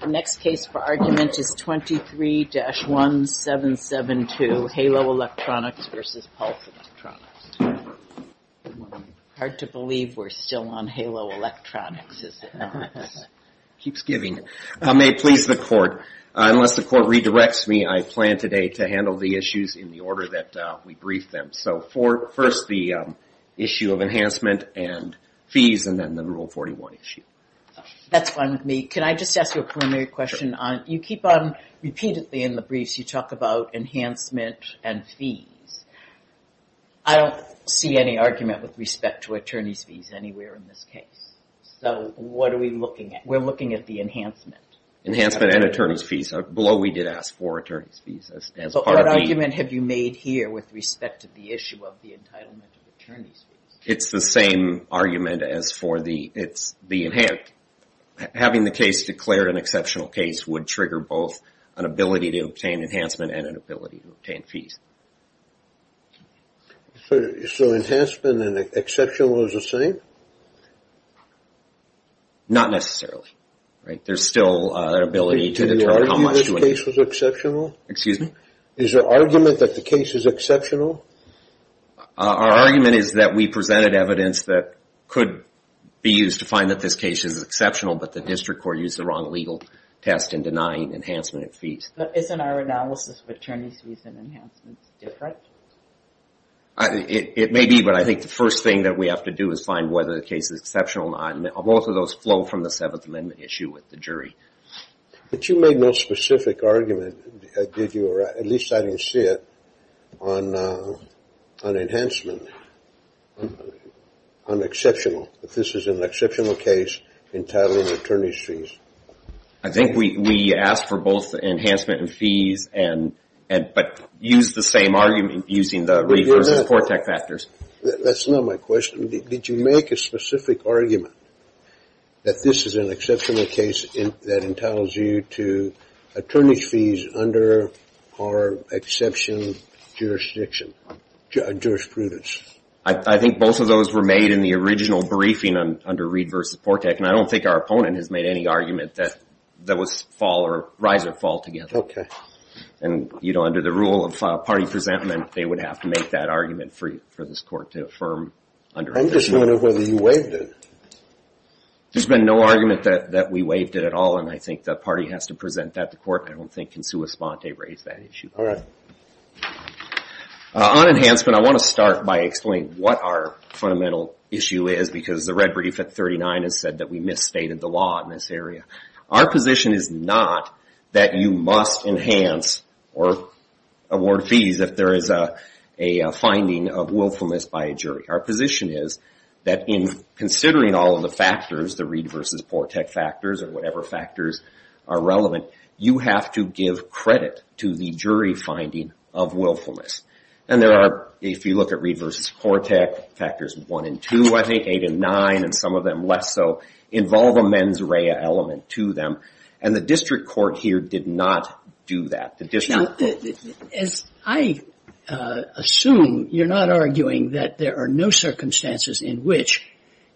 The next case for argument is 23-1772, Halo Electronics v. Pulse Electronics. Hard to believe we're still on Halo Electronics, is it not? Keeps giving. May it please the court, unless the court redirects me, I plan today to handle the issues in the order that we brief them. So first the issue of enhancement and fees, and then the Rule 41 issue. That's fine with me. Can I just ask you a preliminary question? You keep on repeatedly in the briefs you talk about enhancement and fees. I don't see any argument with respect to attorney's fees anywhere in this case. So what are we looking at? We're looking at the enhancement. Enhancement and attorney's fees. Below we did ask for attorney's fees. What argument have you made here with respect to the issue of the entitlement of attorney's fees? It's the same argument as for the enhanced. Having the case declared an exceptional case would trigger both an ability to obtain enhancement and an ability to obtain fees. So enhancement and exceptional is the same? Not necessarily. There's still an ability to determine how much. Did you argue this case was exceptional? Excuse me? Is there argument that the case is exceptional? Our argument is that we presented evidence that could be used to find that this case is exceptional, but the district court used the wrong legal test in denying enhancement and fees. But isn't our analysis of attorney's fees and enhancements different? It may be, but I think the first thing that we have to do is find whether the case is exceptional or not. Both of those flow from the Seventh Amendment issue with the jury. But you made no specific argument, did you, or at least I didn't see it, on enhancement, on exceptional, that this is an exceptional case entitling attorney's fees. I think we asked for both enhancement and fees, but used the same argument using the Reeve versus Kortech factors. That's not my question. Did you make a specific argument that this is an exceptional case that entitles you to attorney's fees under our exception jurisdiction, jurisprudence? I think both of those were made in the original briefing under Reeve versus Kortech, and I don't think our opponent has made any argument that was fall or rise or fall together. Okay. And, you know, under the rule of party presentment, they would have to make that argument for this court to affirm. I'm just wondering whether you waived it. There's been no argument that we waived it at all, and I think the party has to present that to court. I don't think Consuelo Esponte raised that issue. All right. On enhancement, I want to start by explaining what our fundamental issue is, because the red brief at 39 has said that we misstated the law in this area. Our position is not that you must enhance or award fees if there is a finding of willfulness by a jury. Our position is that in considering all of the factors, the Reeve versus Kortech factors or whatever factors are relevant, you have to give credit to the jury finding of willfulness. And there are, if you look at Reeve versus Kortech, factors 1 and 2, I think, 8 and 9, and some of them less so, involve a mens rea element to them. And the district court here did not do that. Now, as I assume, you're not arguing that there are no circumstances in which,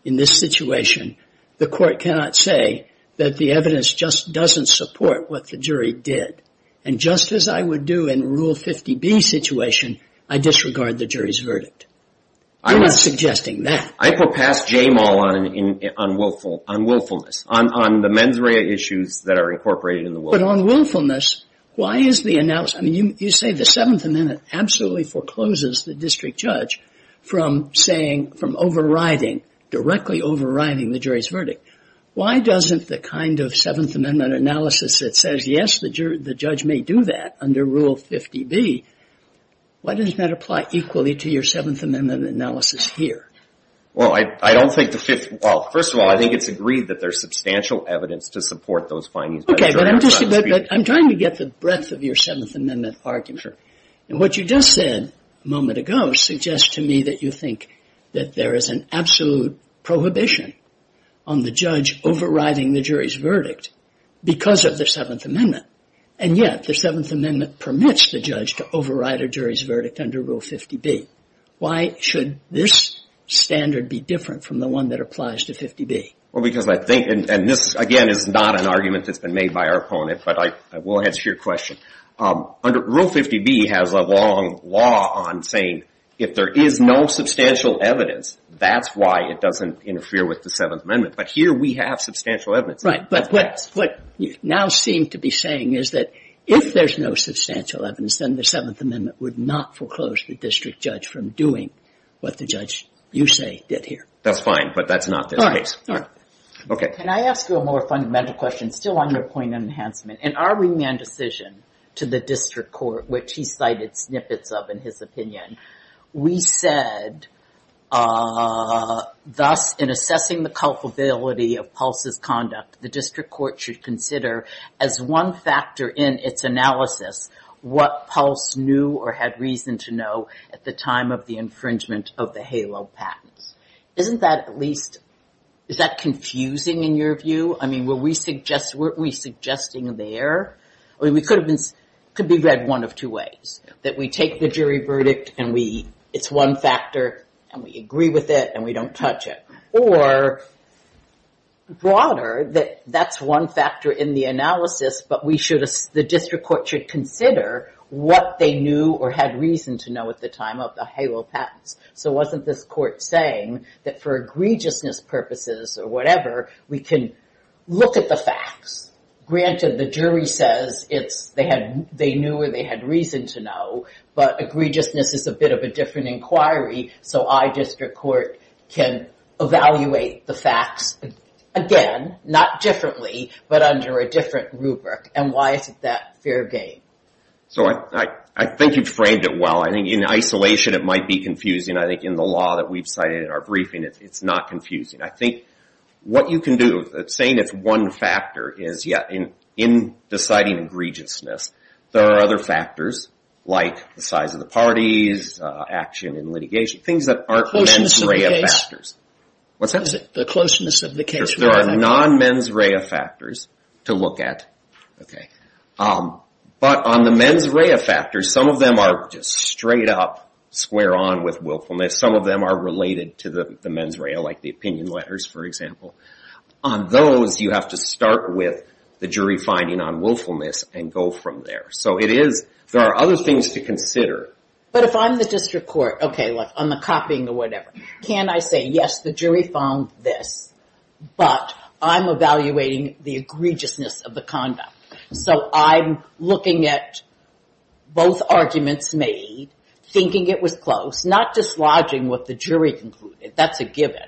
in this situation, the court cannot say that the evidence just doesn't support what the jury did. And just as I would do in Rule 50B's situation, I disregard the jury's verdict. You're not suggesting that. I put past Jamal on willfulness, on the mens rea issues that are incorporated in the willfulness. But on willfulness, why is the analysis, I mean, you say the Seventh Amendment absolutely forecloses the district judge from saying, from overriding, directly overriding the jury's verdict. Why doesn't the kind of Seventh Amendment analysis that says, yes, the judge may do that under Rule 50B, why doesn't that apply equally to your Seventh Amendment analysis here? Well, I don't think the Fifth, well, first of all, I think it's agreed that there's substantial evidence to support those findings. Okay, but I'm trying to get the breadth of your Seventh Amendment argument. And what you just said a moment ago suggests to me that you think that there is an absolute prohibition on the judge overriding the jury's verdict because of the Seventh Amendment. And yet the Seventh Amendment permits the judge to override a jury's verdict under Rule 50B. Why should this standard be different from the one that applies to 50B? Well, because I think, and this, again, is not an argument that's been made by our opponent, but I will answer your question. Under Rule 50B has a long law on saying if there is no substantial evidence, that's why it doesn't interfere with the Seventh Amendment. But here we have substantial evidence. Right, but what you now seem to be saying is that if there's no substantial evidence, then the Seventh Amendment would not foreclose the district judge from doing what the judge, you say, did here. That's fine, but that's not the case. Can I ask you a more fundamental question, still on your point on enhancement? In our remand decision to the district court, which he cited snippets of in his opinion, we said, thus, in assessing the culpability of Pulse's conduct, the district court should consider as one factor in its analysis what Pulse knew or had reason to know at the time of the infringement of the HALO patents. Isn't that at least, is that confusing in your view? I mean, were we suggesting there? I mean, it could be read one of two ways. That we take the jury verdict, and it's one factor, and we agree with it, and we don't touch it. Or broader, that that's one factor in the analysis, but the district court should consider what they knew or had reason to know at the time of the HALO patents. So wasn't this court saying that for egregiousness purposes or whatever, we can look at the facts. Granted, the jury says they knew or they had reason to know, but egregiousness is a bit of a different inquiry, so I, district court, can evaluate the facts, again, not differently, but under a different rubric, and why is it that fair game? So I think you've framed it well. I think in isolation it might be confusing. I think in the law that we've cited in our briefing, it's not confusing. I think what you can do, saying it's one factor, is, yeah, in deciding egregiousness, there are other factors like the size of the parties, action in litigation, things that aren't mens rea factors. What's that? The closeness of the case. There are non-mens rea factors to look at. Okay. But on the mens rea factors, some of them are just straight up square on with willfulness. Some of them are related to the mens rea, like the opinion letters, for example. On those, you have to start with the jury finding on willfulness and go from there. So it is, there are other things to consider. But if I'm the district court, okay, like on the copying or whatever, can I say, yes, the jury found this, but I'm evaluating the egregiousness of the conduct. So I'm looking at both arguments made, thinking it was close, not dislodging what the jury concluded. That's a given.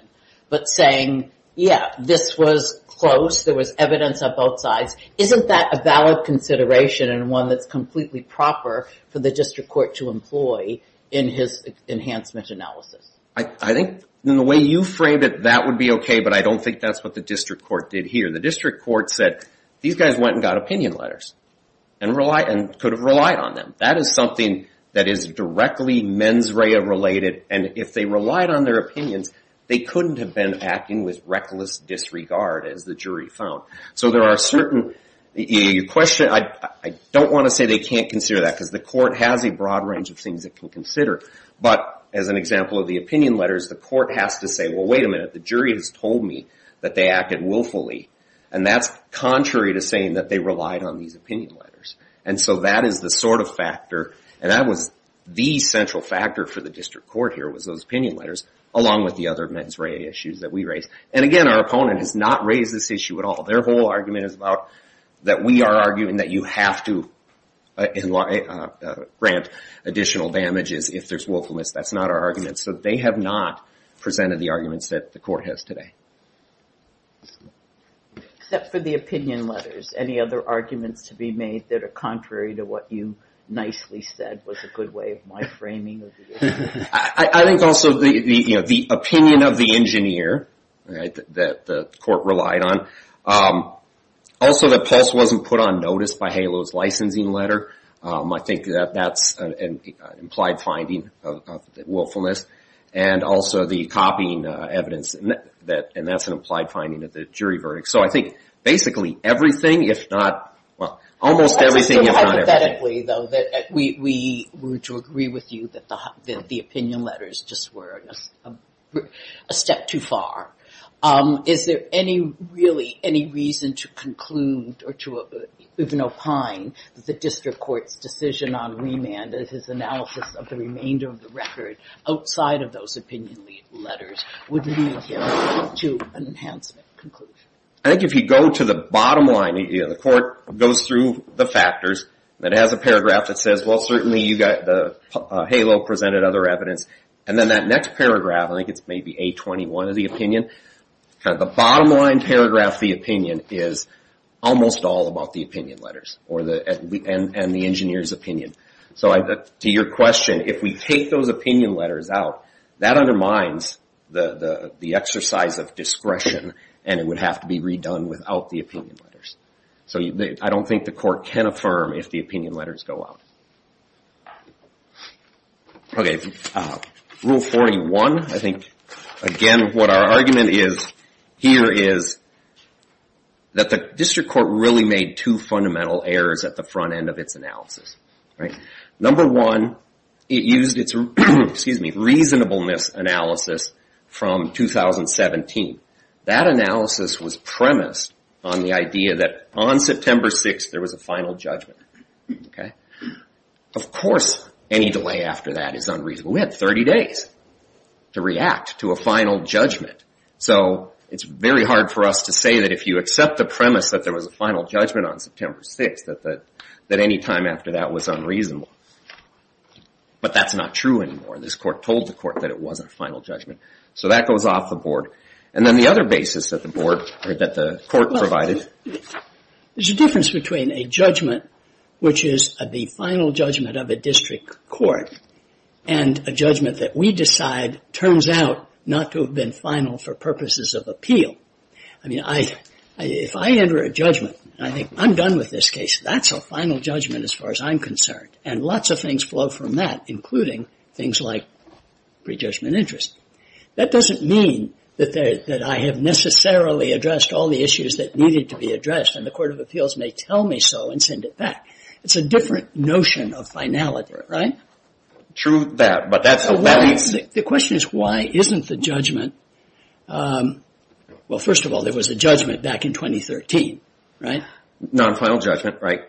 But saying, yeah, this was close, there was evidence on both sides. Isn't that a valid consideration and one that's completely proper for the district court to employ in his enhancement analysis? I think in the way you framed it, that would be okay, but I don't think that's what the district court did here. The district court said, these guys went and got opinion letters and could have relied on them. That is something that is directly mens rea related, and if they relied on their opinions, they couldn't have been acting with reckless disregard, as the jury found. So there are certain, I don't want to say they can't consider that because the court has a broad range of things it can consider. But as an example of the opinion letters, the court has to say, well, wait a minute, the jury has told me that they acted willfully, and that's contrary to saying that they relied on these opinion letters. And so that is the sort of factor, and that was the central factor for the district court here was those opinion letters, along with the other mens rea issues that we raised. And again, our opponent has not raised this issue at all. Their whole argument is about that we are arguing that you have to grant additional damages if there's willfulness. That's not our argument. So they have not presented the arguments that the court has today. Except for the opinion letters, any other arguments to be made that are contrary to what you nicely said was a good way of my framing of the issue? I think also the opinion of the engineer that the court relied on. Also that Pulse wasn't put on notice by HALO's licensing letter. I think that's an implied finding of willfulness. And also the copying evidence, and that's an implied finding of the jury verdict. So I think basically everything, if not almost everything, if not everything. Hypothetically, though, we would agree with you that the opinion letters just were a step too far. Is there really any reason to conclude or to even opine that the district court's decision on remand as his analysis of the remainder of the record outside of those opinion letters would lead him to an enhancement conclusion? I think if you go to the bottom line, the court goes through the factors. It has a paragraph that says, well, certainly HALO presented other evidence. And then that next paragraph, I think it's maybe A21 of the opinion, the bottom line paragraph of the opinion is almost all about the opinion letters and the engineer's opinion. So to your question, if we take those opinion letters out, that undermines the exercise of discretion, and it would have to be redone without the opinion letters. So I don't think the court can affirm if the opinion letters go out. Rule 41. I think, again, what our argument here is that the district court really made two fundamental errors at the front end of its analysis. Number one, it used its reasonableness analysis from 2017. That analysis was premised on the idea that on September 6, there was a final judgment. Of course, any delay after that is unreasonable. We had 30 days to react to a final judgment. So it's very hard for us to say that if you accept the premise that there was a final judgment on September 6, that any time after that was unreasonable. But that's not true anymore. This court told the court that it wasn't a final judgment. So that goes off the board. And then the other basis that the court provided. There's a difference between a judgment, which is the final judgment of a district court, and a judgment that we decide turns out not to have been final for purposes of appeal. I mean, if I enter a judgment and I think, I'm done with this case, that's a final judgment as far as I'm concerned. And lots of things flow from that, including things like prejudgment interest. That doesn't mean that I have necessarily addressed all the issues that needed to be addressed and the Court of Appeals may tell me so and send it back. It's a different notion of finality, right? True that, but that's a valid... The question is, why isn't the judgment... Well, first of all, there was a judgment back in 2013, right? Non-final judgment, right.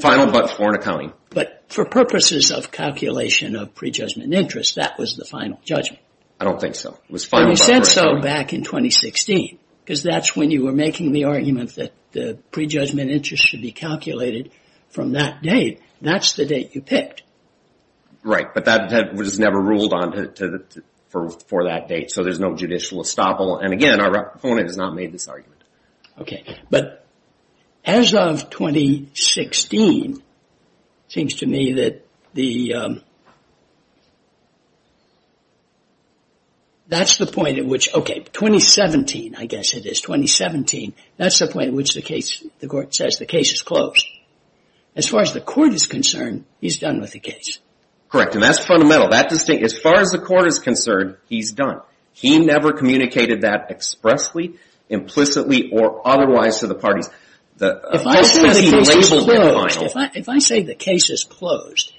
Final but foreign accounting. But for purposes of calculation of prejudgment interest, that was the final judgment. I don't think so. And you said so back in 2016, because that's when you were making the argument that the prejudgment interest should be calculated from that date. That's the date you picked. Right, but that was never ruled on for that date, so there's no judicial estoppel. And again, our proponent has not made this argument. But as of 2016, it seems to me that the... That's the point at which... Okay, 2017, I guess it is. 2017, that's the point at which the Court says the case is closed. As far as the Court is concerned, he's done with the case. Correct, and that's fundamental. As far as the Court is concerned, he's done. He never communicated that expressly, implicitly, or otherwise to the parties. If I say the case is closed,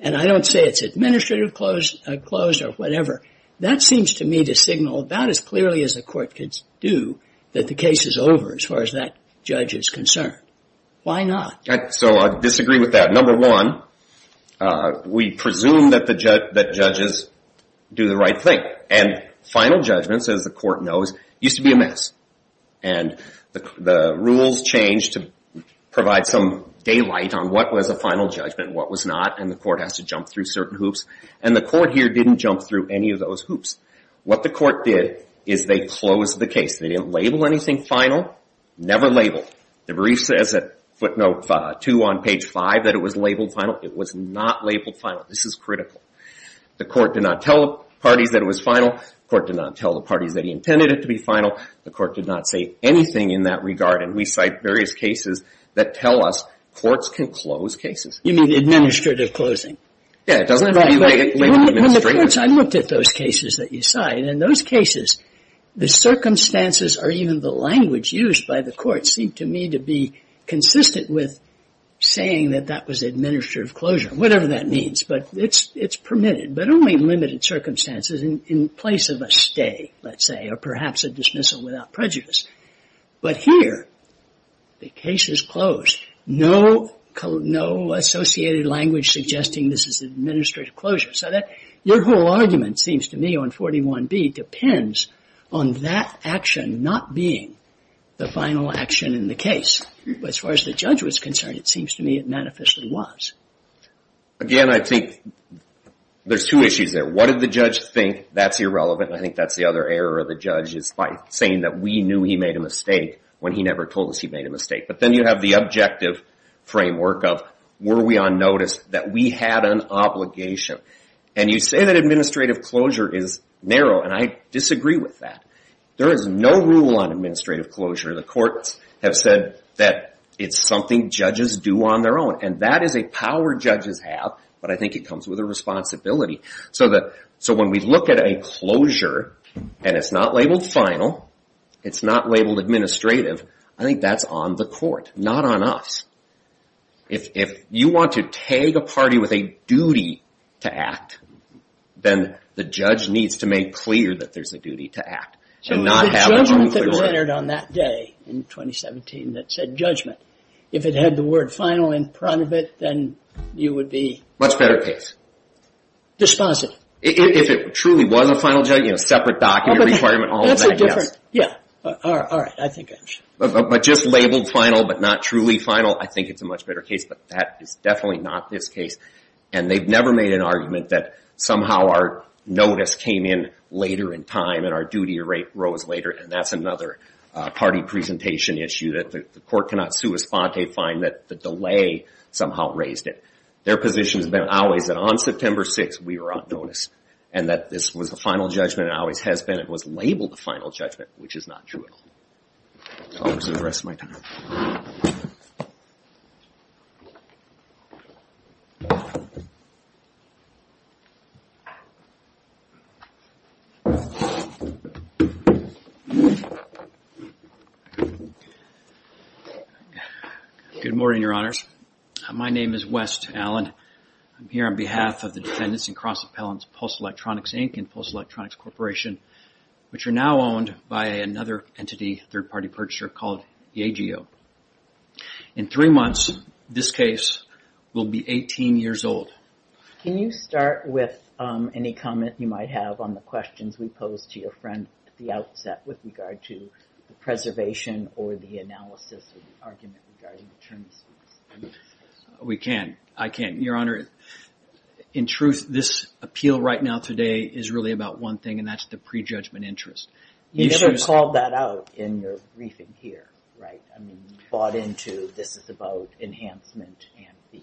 and I don't say it's administrative closed or whatever, that seems to me to signal about as clearly as the Court could do that the case is over as far as that judge is concerned. Why not? So I disagree with that. Number one, we presume that judges do the right thing. And final judgments, as the Court knows, used to be a mess. And the rules changed to provide some daylight on what was a final judgment and what was not, and the Court has to jump through certain hoops. And the Court here didn't jump through any of those hoops. What the Court did is they closed the case. They didn't label anything final, never labeled. The brief says at footnote 2 on page 5 that it was labeled final. It was not labeled final. This is critical. The Court did not tell the parties that it was final. The Court did not tell the parties that he intended it to be final. The Court did not say anything in that regard, and we cite various cases that tell us courts can close cases. You mean administrative closing? Yeah, it doesn't regulate it. I looked at those cases that you cite, and in those cases, the circumstances or even the language used by the Court seemed to me to be consistent with saying that that was administrative closure, whatever that means, but it's permitted, but only in limited circumstances in place of a stay, let's say, or perhaps a dismissal without prejudice. But here, the case is closed. No associated language suggesting this is administrative closure. Your whole argument seems to me on 41B depends on that action not being the final action in the case. But as far as the judge was concerned, it seems to me it manifestly was. Again, I think there's two issues there. What did the judge think? That's irrelevant, and I think that's the other error of the judge, is by saying that we knew he made a mistake when he never told us he made a mistake. But then you have the objective framework of were we on notice that we had an obligation. And you say that administrative closure is narrow, and I disagree with that. There is no rule on administrative closure. The courts have said that it's something judges do on their own, and that is a power judges have, but I think it comes with a responsibility. So when we look at a closure and it's not labeled final, it's not labeled administrative, I think that's on the court, not on us. If you want to tag a party with a duty to act, then the judge needs to make clear that there's a duty to act. So the judgment that was entered on that day in 2017 that said judgment, if it had the word final in front of it, then you would be? Much better case. Dispositive. If it truly was a final judgment, you know, separate document requirement, all of that, yes. Yeah, all right, I think I understand. But just labeled final but not truly final, I think it's a much better case, but that is definitely not this case. And they've never made an argument that somehow our notice came in later in time and our duty arose later, and that's another party presentation issue that the court cannot sui sponte, find that the delay somehow raised it. Their position has been always that on September 6th we were on notice, and that this was the final judgment and always has been. The final judgment was labeled the final judgment, which is not true at all. I'll reserve the rest of my time. Good morning, Your Honors. My name is West Allen. I'm here on behalf of the defendants and cross appellants, Pulse Electronics, Inc. and Pulse Electronics Corporation, which are now owned by another entity, third-party purchaser called the AGO. In three months, this case will be 18 years old. Can you start with any comment you might have on the questions we posed to your friend at the outset with regard to the preservation or the analysis of the argument regarding the term? We can. I can. Your Honor, in truth, this appeal right now today is really about one thing, and that's the prejudgment interest. You never called that out in your briefing here, right? I mean, you bought into this is about enhancement and fees.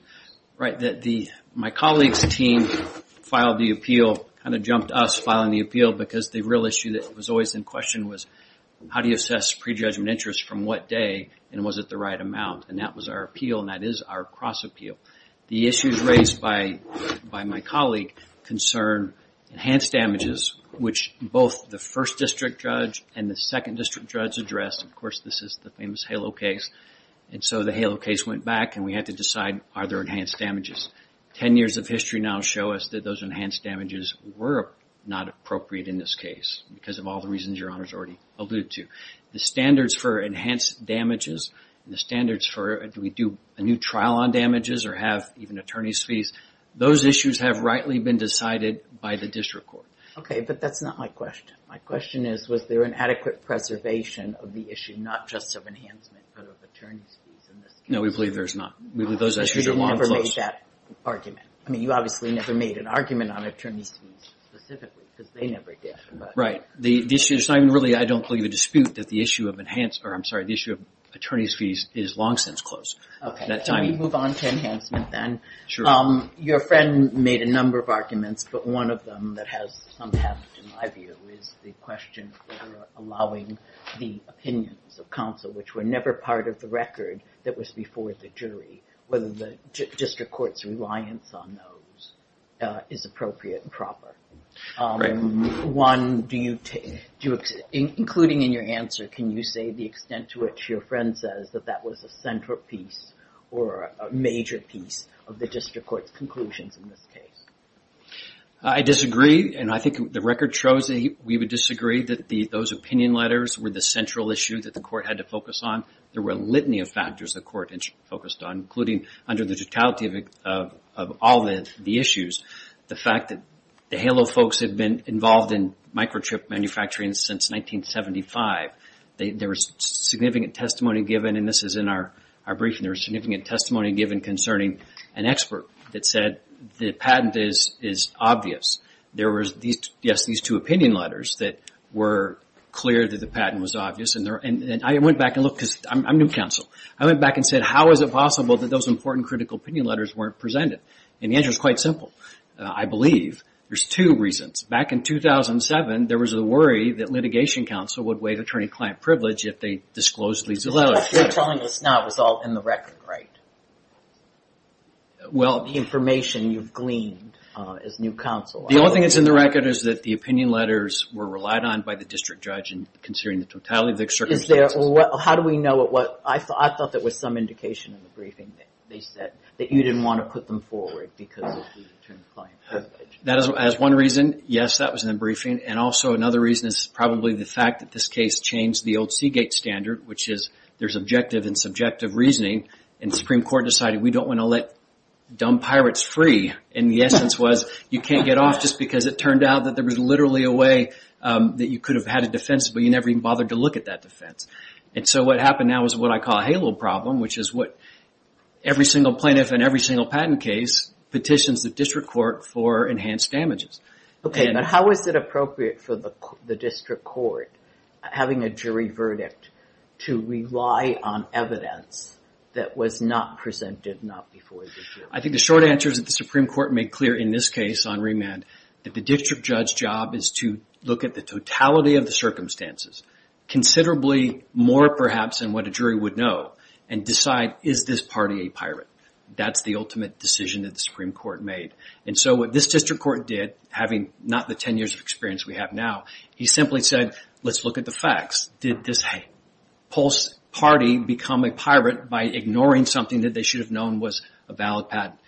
Right. My colleague's team filed the appeal, kind of jumped us filing the appeal because the real issue that was always in question was how do you assess prejudgment interest from what day, and was it the right amount? And that was our appeal, and that is our cross appeal. The issues raised by my colleague concern enhanced damages, which both the first district judge and the second district judge addressed. Of course, this is the famous HALO case. And so the HALO case went back, and we had to decide, are there enhanced damages? Ten years of history now show us that those enhanced damages were not appropriate in this case because of all the reasons your Honor has already alluded to. The standards for enhanced damages, the standards for do we do a new trial on damages or have even attorney's fees, those issues have rightly been decided by the district court. Okay, but that's not my question. My question is, was there an adequate preservation of the issue, not just of enhancement but of attorney's fees in this case? No, we believe there's not. We believe those issues are long closed. Because you never made that argument. I mean, you obviously never made an argument on attorney's fees specifically because they never did. Right. I don't believe the dispute that the issue of attorney's fees is long since closed. Okay, can we move on to enhancement then? Your friend made a number of arguments, but one of them that has some heft in my view is the question of allowing the opinions of counsel, which were never part of the record that was before the jury, whether the district court's reliance on those is appropriate and proper. One, including in your answer, can you say the extent to which your friend says that that was a centerpiece or a major piece of the district court's conclusions in this case? I disagree, and I think the record shows that we would disagree that those opinion letters were the central issue that the court had to focus on. There were a litany of factors the court focused on, including under the totality of all the issues, the fact that the HALO folks have been involved in microchip manufacturing since 1975. There was significant testimony given, and this is in our briefing, there was significant testimony given concerning an expert that said the patent is obvious. There were, yes, these two opinion letters that were clear that the patent was obvious, and I went back and looked, because I'm new counsel. I went back and said, how is it possible that those important critical opinion letters weren't presented? And the answer is quite simple. I believe there's two reasons. Back in 2007, there was a worry that litigation counsel would waive attorney-client privilege if they disclosed legal evidence. You're telling us now it was all in the record, right? All the information you've gleaned as new counsel. The only thing that's in the record is that the opinion letters were relied on by the district judge in considering the totality of the circumstances. How do we know what, I thought there was some indication in the briefing that they said that you didn't want to put them forward because of the attorney-client privilege. That is one reason. Yes, that was in the briefing. And also another reason is probably the fact that this case changed the old Seagate standard, which is there's objective and subjective reasoning, and the Supreme Court decided we don't want to let dumb pirates free. And the essence was you can't get off just because it turned out that there was literally a way that you could have had a defense, but you never even bothered to look at that defense. And so what happened now is what I call a halo problem, which is what every single plaintiff in every single patent case petitions the district court for enhanced damages. Okay, but how is it appropriate for the district court, having a jury verdict, to rely on evidence that was not presented not before the jury? I think the short answer is that the Supreme Court made clear in this case on remand that the district judge's job is to look at the totality of the circumstances, considerably more perhaps than what a jury would know, and decide is this party a pirate. That's the ultimate decision that the Supreme Court made. And so what this district court did, having not the 10 years of experience we have now, he simply said, let's look at the facts. Did this Pulse party become a pirate by ignoring something that they should have known was a valid patent?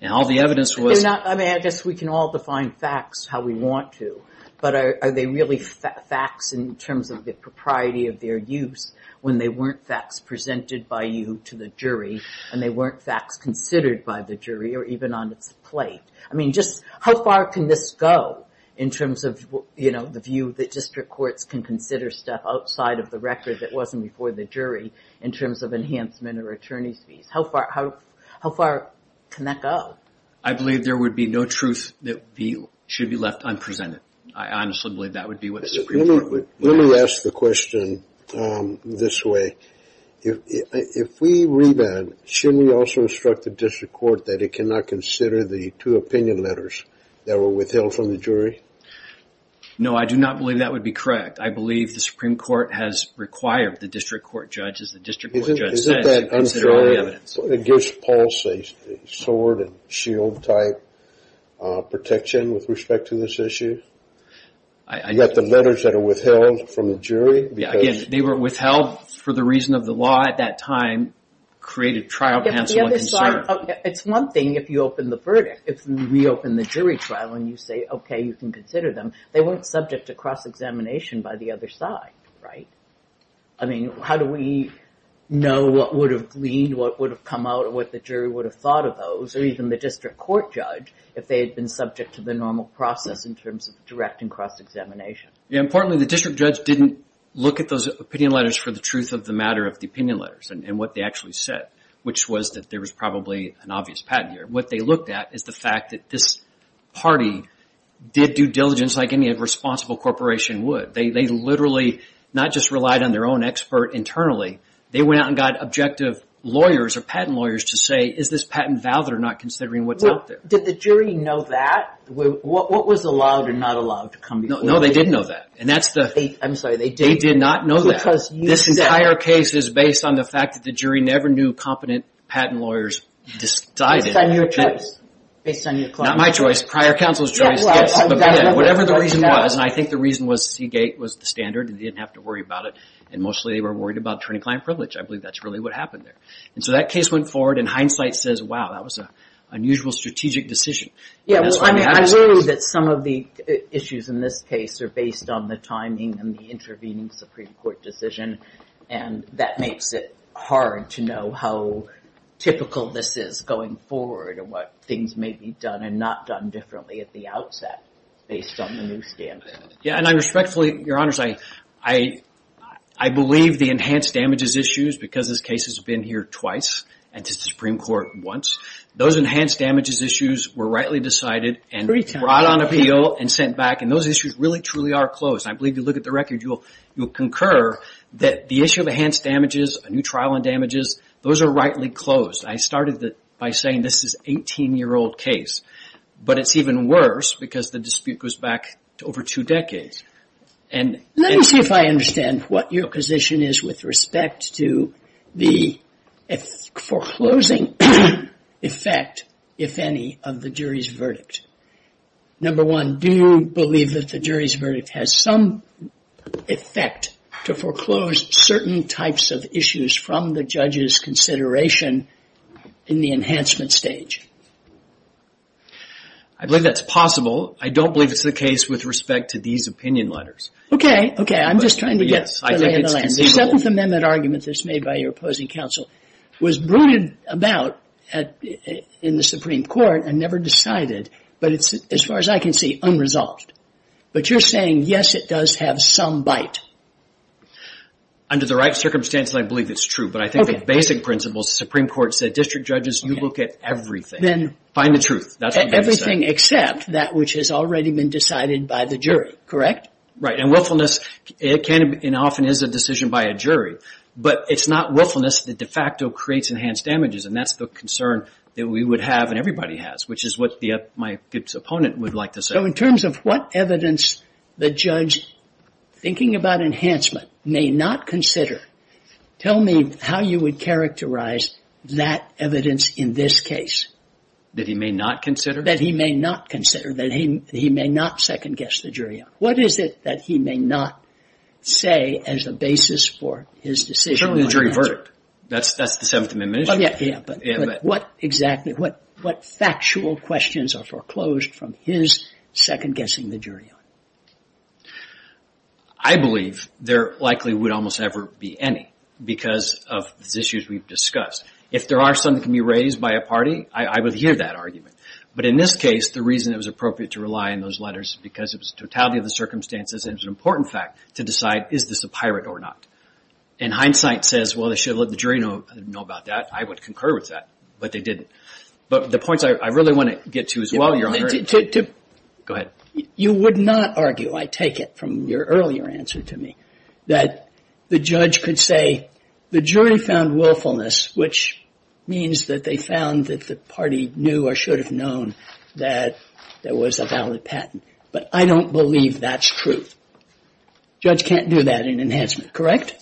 And all the evidence was... I mean, I guess we can all define facts how we want to, but are they really facts in terms of the propriety of their use when they weren't facts presented by you to the jury and they weren't facts considered by the jury or even on its plate? I mean, just how far can this go in terms of, you know, the view that district courts can consider stuff outside of the record that wasn't before the jury in terms of enhancement or attorney's fees? How far can that go? I believe there would be no truth that should be left unprecedented. I honestly believe that would be what the Supreme Court would... Let me ask the question this way. If we revamp, shouldn't we also instruct the district court that it cannot consider the two opinion letters that were withheld from the jury? No, I do not believe that would be correct. I believe the Supreme Court has required the district court judges, the district court judge says to consider all the evidence. It gives Pulse a sword and shield type protection with respect to this issue? You've got the letters that are withheld from the jury? Yeah, again, they were withheld for the reason of the law at that time, created trial to answer one concern. It's one thing if you open the verdict. If we reopen the jury trial and you say, okay, you can consider them, they weren't subject to cross-examination by the other side, right? I mean, how do we know what would have gleaned, what would have come out, what the jury would have thought of those or even the district court judge if they had been subject to the normal process in terms of direct and cross-examination? Yeah, importantly, the district judge didn't look at those opinion letters for the truth of the matter of the opinion letters and what they actually said, which was that there was probably an obvious patent here. What they looked at is the fact that this party did due diligence like any responsible corporation would. They literally not just relied on their own expert internally, they went out and got objective lawyers or patent lawyers to say, is this patent valid or not considering what's out there? Did the jury know that? What was allowed and not allowed? No, they didn't know that. I'm sorry, they didn't. They did not know that. This entire case is based on the fact that the jury never knew competent patent lawyers decided. Based on your choice. Not my choice, prior counsel's choice. Whatever the reason was, and I think the reason was Seagate was the standard and they didn't have to worry about it, and mostly they were worried about attorney-client privilege. I believe that's really what happened there. So that case went forward and hindsight says, wow, that was an unusual strategic decision. I believe that some of the issues in this case are based on the timing and the intervening Supreme Court decision, and that makes it hard to know how typical this is going forward and what things may be done and not done differently at the outset based on the new standard. Yeah, and I respectfully, Your Honors, I believe the enhanced damages issues because this case has been here twice and to the Supreme Court once, those enhanced damages issues were rightly decided and brought on appeal and sent back, and those issues really truly are closed. I believe if you look at the record you'll concur that the issue of enhanced damages, a new trial on damages, those are rightly closed. I started by saying this is an 18-year-old case, but it's even worse because the dispute goes back to over two decades. Let me see if I understand what your position is with respect to the foreclosing effect, if any, of the jury's verdict. Number one, do you believe that the jury's verdict has some effect to foreclose certain types of issues from the judge's consideration in the enhancement stage? I believe that's possible. I don't believe it's the case with respect to these opinion letters. Okay, okay, I'm just trying to get the lay of the land. The Seventh Amendment argument that's made by your opposing counsel was brooded about in the Supreme Court and never decided, but it's, as far as I can see, unresolved. But you're saying, yes, it does have some bite. Under the right circumstances I believe it's true, but I think the basic principle is the Supreme Court said, District Judges, you look at everything. Find the truth. Everything except that which has already been decided by the jury, correct? Right, and willfulness often is a decision by a jury, but it's not willfulness that de facto creates enhanced damages, and that's the concern that we would have and everybody has, which is what my opponent would like to say. So in terms of what evidence the judge, thinking about enhancement, may not consider, tell me how you would characterize that evidence in this case. That he may not consider? That he may not consider, that he may not second-guess the jury on. What is it that he may not say as the basis for his decision? Certainly the jury verdict. That's the Seventh Amendment issue. Yeah, but what factual questions are foreclosed from his second-guessing the jury on? I believe there likely would almost never be any because of these issues we've discussed. If there are some that can be raised by a party, I would hear that argument. But in this case, the reason it was appropriate to rely on those letters because it was the totality of the circumstances and it was an important fact to decide, is this a pirate or not? And hindsight says, well, they should have let the jury know about that. I would concur with that, but they didn't. But the points I really want to get to as well, Your Honor. Go ahead. You would not argue, I take it from your earlier answer to me, that the judge could say the jury found willfulness, which means that they found that the party knew or should have known that there was a valid patent. But I don't believe that's true. The judge can't do that in enhancement, correct?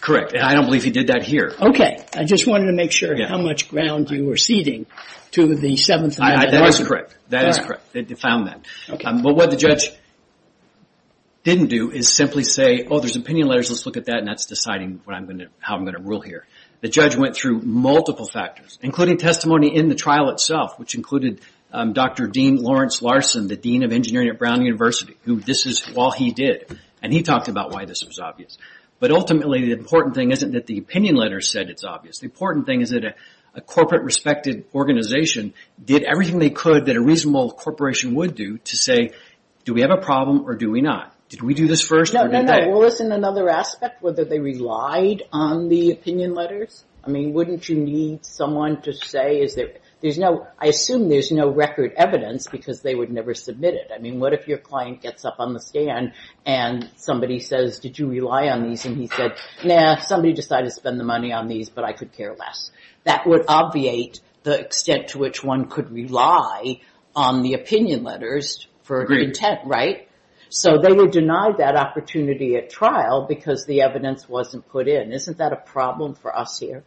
Correct. And I don't believe he did that here. Okay. I just wanted to make sure how much ground you were ceding to the Seventh Amendment. That is correct. That is correct. They found that. But what the judge didn't do is simply say, oh, there's opinion letters, let's look at that, and that's deciding how I'm going to rule here. The judge went through multiple factors, including testimony in the trial itself, which included Dr. Dean Lawrence Larson, the Dean of Engineering at Brown University, who this is all he did, and he talked about why this was obvious. But ultimately the important thing isn't that the opinion letters said it's obvious. The important thing is that a corporate-respected organization did everything they could that a reasonable corporation would do to say, do we have a problem or do we not? Did we do this first or did they? No, no, no. Well, isn't another aspect whether they relied on the opinion letters? I mean, wouldn't you need someone to say is there – there's no – I assume there's no record evidence because they would never submit it. I mean, what if your client gets up on the stand and somebody says, did you rely on these? And he said, nah, somebody decided to spend the money on these, but I could care less. That would obviate the extent to which one could rely on the opinion letters for intent, right? So they would deny that opportunity at trial because the evidence wasn't put in. Isn't that a problem for us here?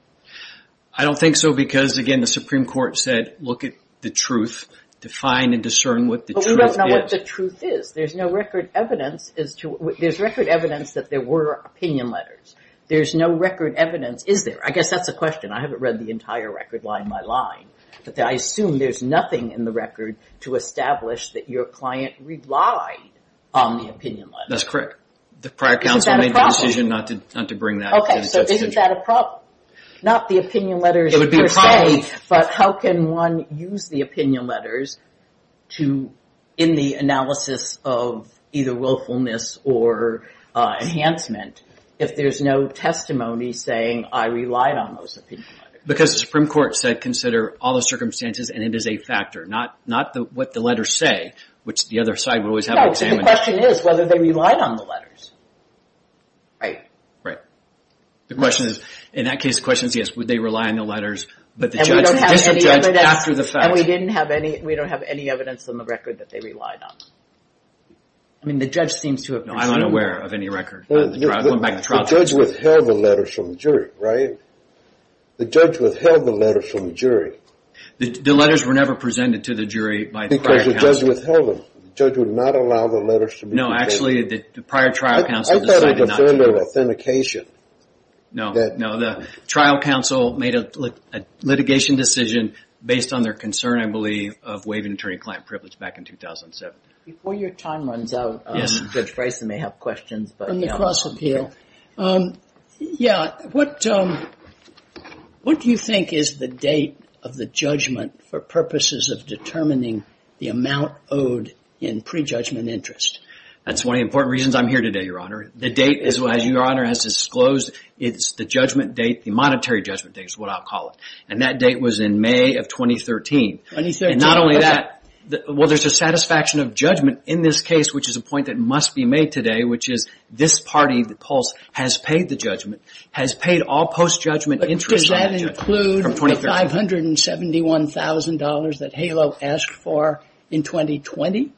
I don't think so because, again, the Supreme Court said look at the truth, define and discern what the truth is. But we don't know what the truth is. There's no record evidence as to – there's record evidence that there were opinion letters. There's no record evidence, is there? I guess that's a question. I haven't read the entire record line by line. But I assume there's nothing in the record to establish that your client relied on the opinion letters. That's correct. The prior counsel made the decision not to bring that up. Okay, so isn't that a problem? Not the opinion letters per se, but how can one use the opinion letters to – in the analysis of either willfulness or enhancement, if there's no testimony saying I relied on those opinion letters? Because the Supreme Court said consider all the circumstances and it is a factor, not what the letters say, which the other side will always have examined. No, but the question is whether they relied on the letters, right? Right. The question is – in that case, the question is yes, would they rely on the letters, but the judge – the district judge, after the fact – And we don't have any evidence on the record that they relied on them. I mean, the judge seems to have presumed – The judge withheld the letters from the jury, right? The judge withheld the letters from the jury. The letters were never presented to the jury by the prior counsel. Because the judge withheld them. The judge would not allow the letters to be presented. No, actually, the prior trial counsel decided not to. I thought it was a matter of authentication. No, no. The trial counsel made a litigation decision based on their concern, I believe, of waiving attorney-client privilege back in 2007. Before your time runs out, Judge Friesen may have questions. On the cross-appeal. Yeah, what do you think is the date of the judgment for purposes of determining the amount owed in prejudgment interest? That's one of the important reasons I'm here today, Your Honor. The date, as Your Honor has disclosed, it's the judgment date, the monetary judgment date is what I'll call it. And that date was in May of 2013. And not only that – Well, there's a satisfaction of judgment in this case, which is a point that must be made today, which is this party, the polls, has paid the judgment, has paid all post-judgment interest. But does that include the $571,000 that HALO asked for in 2020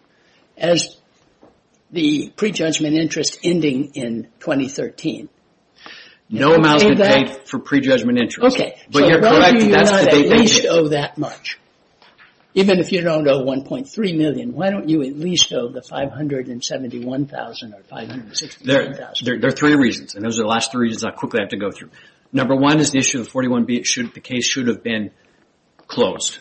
as the prejudgment interest ending in 2013? No amounts can be paid for prejudgment interest. So why do you not at least owe that much? Even if you don't owe $1.3 million, why don't you at least owe the $571,000 or $561,000? There are three reasons, and those are the last three reasons I quickly have to go through. Number one is the issue of 41B. The case should have been closed.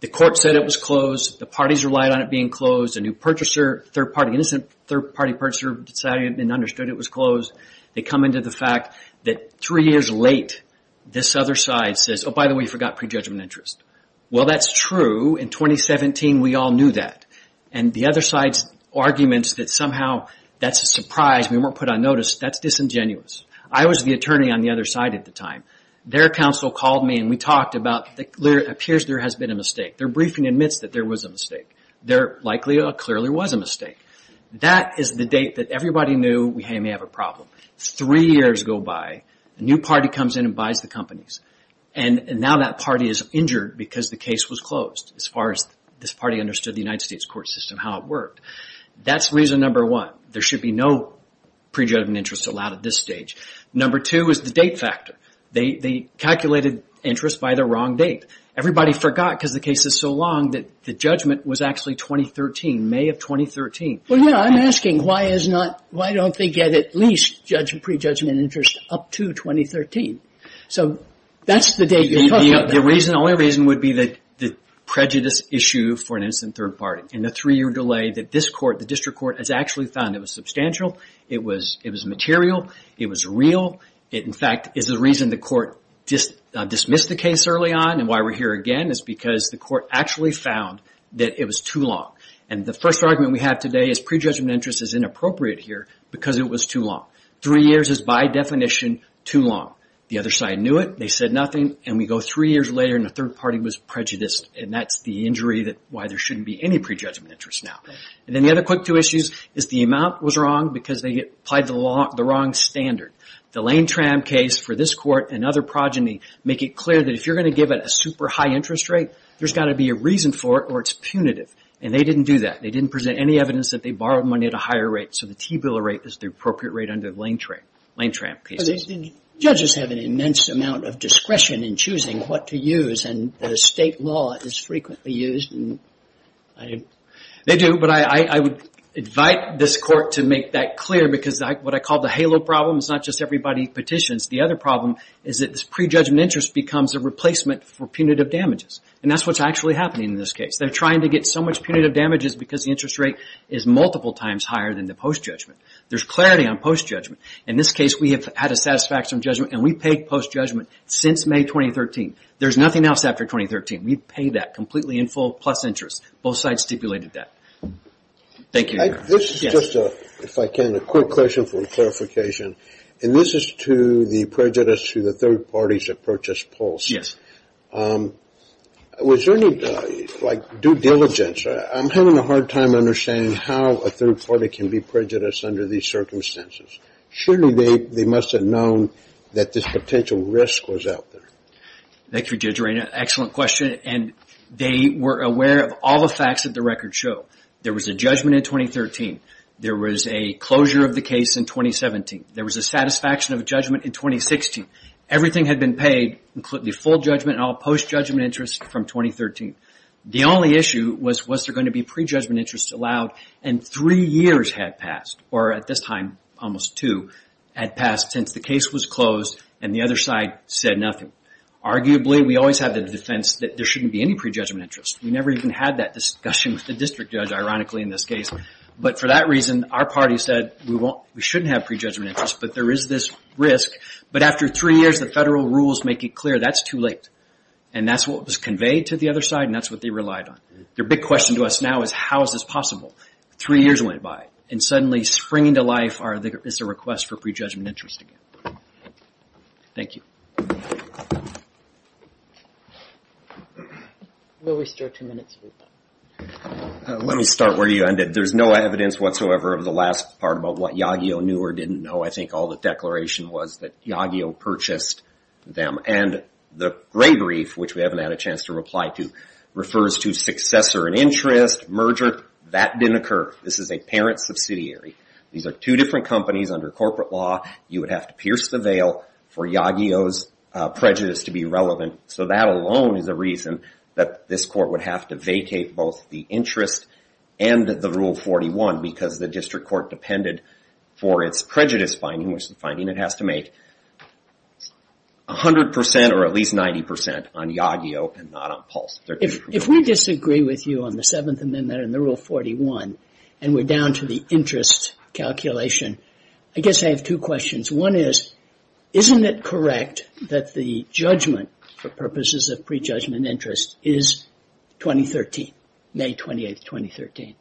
The court said it was closed. The parties relied on it being closed. A new purchaser, third-party, innocent third-party purchaser decided and understood it was closed. They come into the fact that three years late, this other side says, oh, by the way, you forgot prejudgment interest. Well, that's true. In 2017, we all knew that. And the other side's arguments that somehow that's a surprise, we weren't put on notice, that's disingenuous. I was the attorney on the other side at the time. Their counsel called me, and we talked about, it appears there has been a mistake. Their briefing admits that there was a mistake. There likely clearly was a mistake. That is the date that everybody knew we may have a problem. Three years go by. A new party comes in and buys the companies. And now that party is injured because the case was closed, as far as this party understood the United States court system, how it worked. That's reason number one. There should be no prejudgment interest allowed at this stage. Number two is the date factor. They calculated interest by the wrong date. Everybody forgot because the case is so long that the judgment was actually 2013, in May of 2013. Well, no, I'm asking why is not, why don't they get at least prejudgment interest up to 2013? So that's the date you're talking about. The only reason would be the prejudice issue for an instant third party. And the three-year delay that this court, the district court, has actually found. It was substantial. It was material. It was real. In fact, is the reason the court dismissed the case early on and why we're here again is because the court actually found that it was too long. And the first argument we have today is prejudgment interest is inappropriate here because it was too long. Three years is by definition too long. The other side knew it. They said nothing. And we go three years later and the third party was prejudiced. And that's the injury why there shouldn't be any prejudgment interest now. And then the other quick two issues is the amount was wrong because they applied the wrong standard. The Lane-Tram case for this court and other progeny make it clear that if you're going to give it a super high interest rate, there's got to be a reason for it or it's punitive. And they didn't do that. They didn't present any evidence that they borrowed money at a higher rate. So the T-bill rate is the appropriate rate under the Lane-Tram cases. But judges have an immense amount of discretion in choosing what to use. And the state law is frequently used. They do, but I would invite this court to make that clear because what I call the halo problem is not just everybody petitions. The other problem is that this prejudgment interest becomes a replacement for punitive damages. And that's what's actually happening in this case. They're trying to get so much punitive damages because the interest rate is multiple times higher than the post-judgment. There's clarity on post-judgment. In this case, we have had a satisfaction judgment and we paid post-judgment since May 2013. There's nothing else after 2013. We've paid that completely in full plus interest. Both sides stipulated that. Thank you. This is just, if I can, a quick question for clarification. And this is to the prejudice to the third parties that purchased Pulse. Yes. Was there any, like, due diligence? I'm having a hard time understanding how a third party can be prejudiced under these circumstances. Surely they must have known that this potential risk was out there. Thank you, Judge Reina. Excellent question. And they were aware of all the facts that the records show. There was a judgment in 2013. There was a closure of the case in 2017. There was a satisfaction of judgment in 2016. Everything had been paid, including the full judgment and all post-judgment interest from 2013. The only issue was, was there going to be prejudgment interest allowed? And three years had passed, or at this time, almost two, had passed since the case was closed and the other side said nothing. Arguably, we always have the defense that there shouldn't be any prejudgment interest. We never even had that discussion with the district judge, ironically, in this case. But for that reason, our party said we shouldn't have prejudgment interest, but there is this risk. But after three years, the federal rules make it clear that's too late. And that's what was conveyed to the other side, and that's what they relied on. Their big question to us now is, how is this possible? Three years went by, and suddenly springing to life is a request for prejudgment interest again. Thank you. We'll restore two minutes. Let me start where you ended. There's no evidence whatsoever of the last part about what Yagio knew or didn't know. I think all the declaration was that Yagio purchased them. And the gray brief, which we haven't had a chance to reply to, refers to successor in interest, merger. That didn't occur. This is a parent subsidiary. These are two different companies under corporate law. You would have to pierce the veil for Yagio's prejudice to be relevant. So that alone is a reason that this court would have to vacate both the interest and the Rule 41 because the district court depended for its prejudice finding, which the finding it has to make 100% or at least 90% on Yagio and not on Pulse. If we disagree with you on the Seventh Amendment and the Rule 41, and we're down to the interest calculation, I guess I have two questions. One is, isn't it correct that the judgment for purposes of prejudgment interest is 2013, May 28, 2013?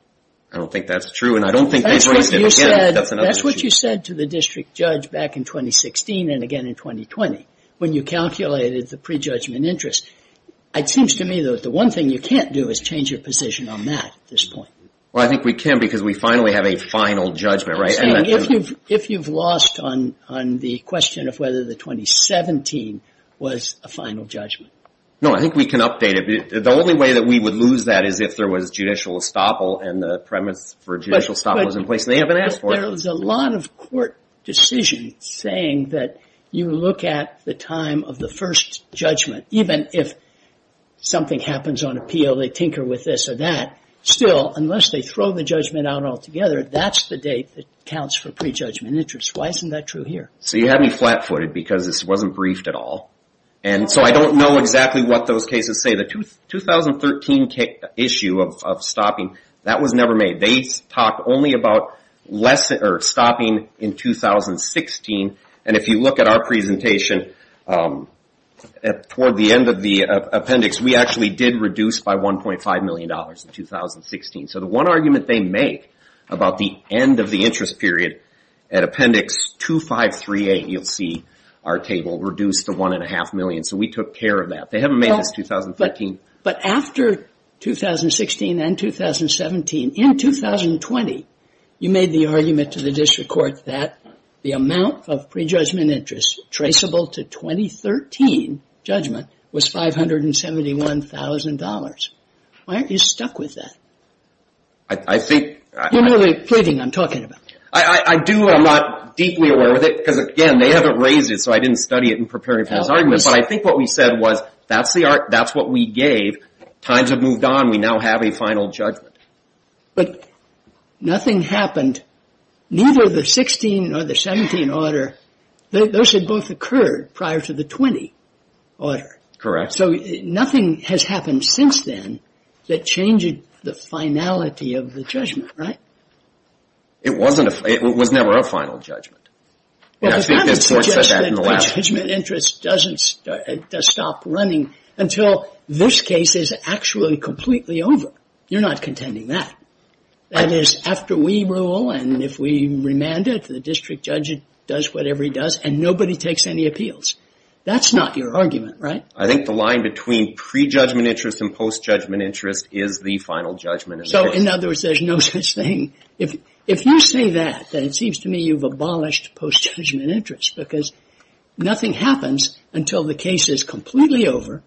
I don't think that's true, and I don't think they've raised it again. That's what you said to the district judge back in 2016 and again in 2020 when you calculated the prejudgment interest. It seems to me that the one thing you can't do is change your position on that at this point. Well, I think we can because we finally have a final judgment, right? I'm saying if you've lost on the question of whether the 2017 was a final judgment. No, I think we can update it. The only way that we would lose that is if there was judicial estoppel and the premise for judicial estoppel is in place, and they haven't asked for it. But there's a lot of court decisions saying that you look at the time of the first judgment. Even if something happens on appeal, they tinker with this or that, still, unless they throw the judgment out altogether, that's the date that counts for prejudgment interest. Why isn't that true here? So you have me flat-footed because this wasn't briefed at all. And so I don't know exactly what those cases say. The 2013 issue of stopping, that was never made. They talked only about stopping in 2016, and if you look at our presentation, toward the end of the appendix, we actually did reduce by $1.5 million in 2016. So the one argument they make about the end of the interest period, at appendix 2538, you'll see our table, reduced to $1.5 million. So we took care of that. They haven't made this 2013. But after 2016 and 2017, in 2020, you made the argument to the district court that the amount of prejudgment interest traceable to 2013 judgment was $571,000. Why aren't you stuck with that? I think... You're really pleading, I'm talking about. I do. I'm not deeply aware of it because, again, they haven't raised it, so I didn't study it in preparing for this argument. But I think what we said was that's what we gave. Times have moved on. We now have a final judgment. But nothing happened, neither the 16 or the 17 order. Those had both occurred prior to the 20 order. Correct. So nothing has happened since then that changed the finality of the judgment, right? It was never a final judgment. I think the court said that in the last case. Well, that would suggest that prejudgment interest doesn't stop running until this case is actually completely over. You're not contending that. That is, after we rule and if we remand it, the district judge does whatever he does, and nobody takes any appeals. That's not your argument, right? I think the line between prejudgment interest and post-judgment interest is the final judgment. So, in other words, there's no such thing. If you say that, then it seems to me you've abolished post-judgment interest because nothing happens until the case is completely over,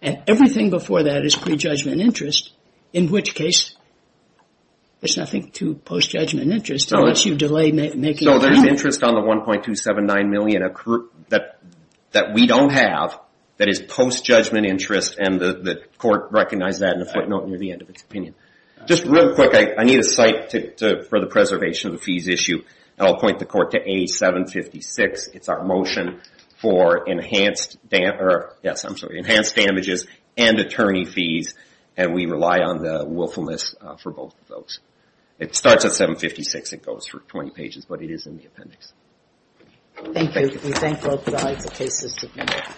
and everything before that is prejudgment interest, in which case there's nothing to post-judgment interest unless you delay making a ruling. So there's interest on the $1.279 million that we don't have that is post-judgment interest, and the court recognized that in a footnote near the end of its opinion. Just real quick, I need a site for the preservation of the fees issue, and I'll point the court to A756. It's our motion for enhanced damages and attorney fees, and we rely on the willfulness for both of those. It starts at 756. It goes for 20 pages, but it is in the appendix. Thank you. We thank both of the aides. The case is adjourned.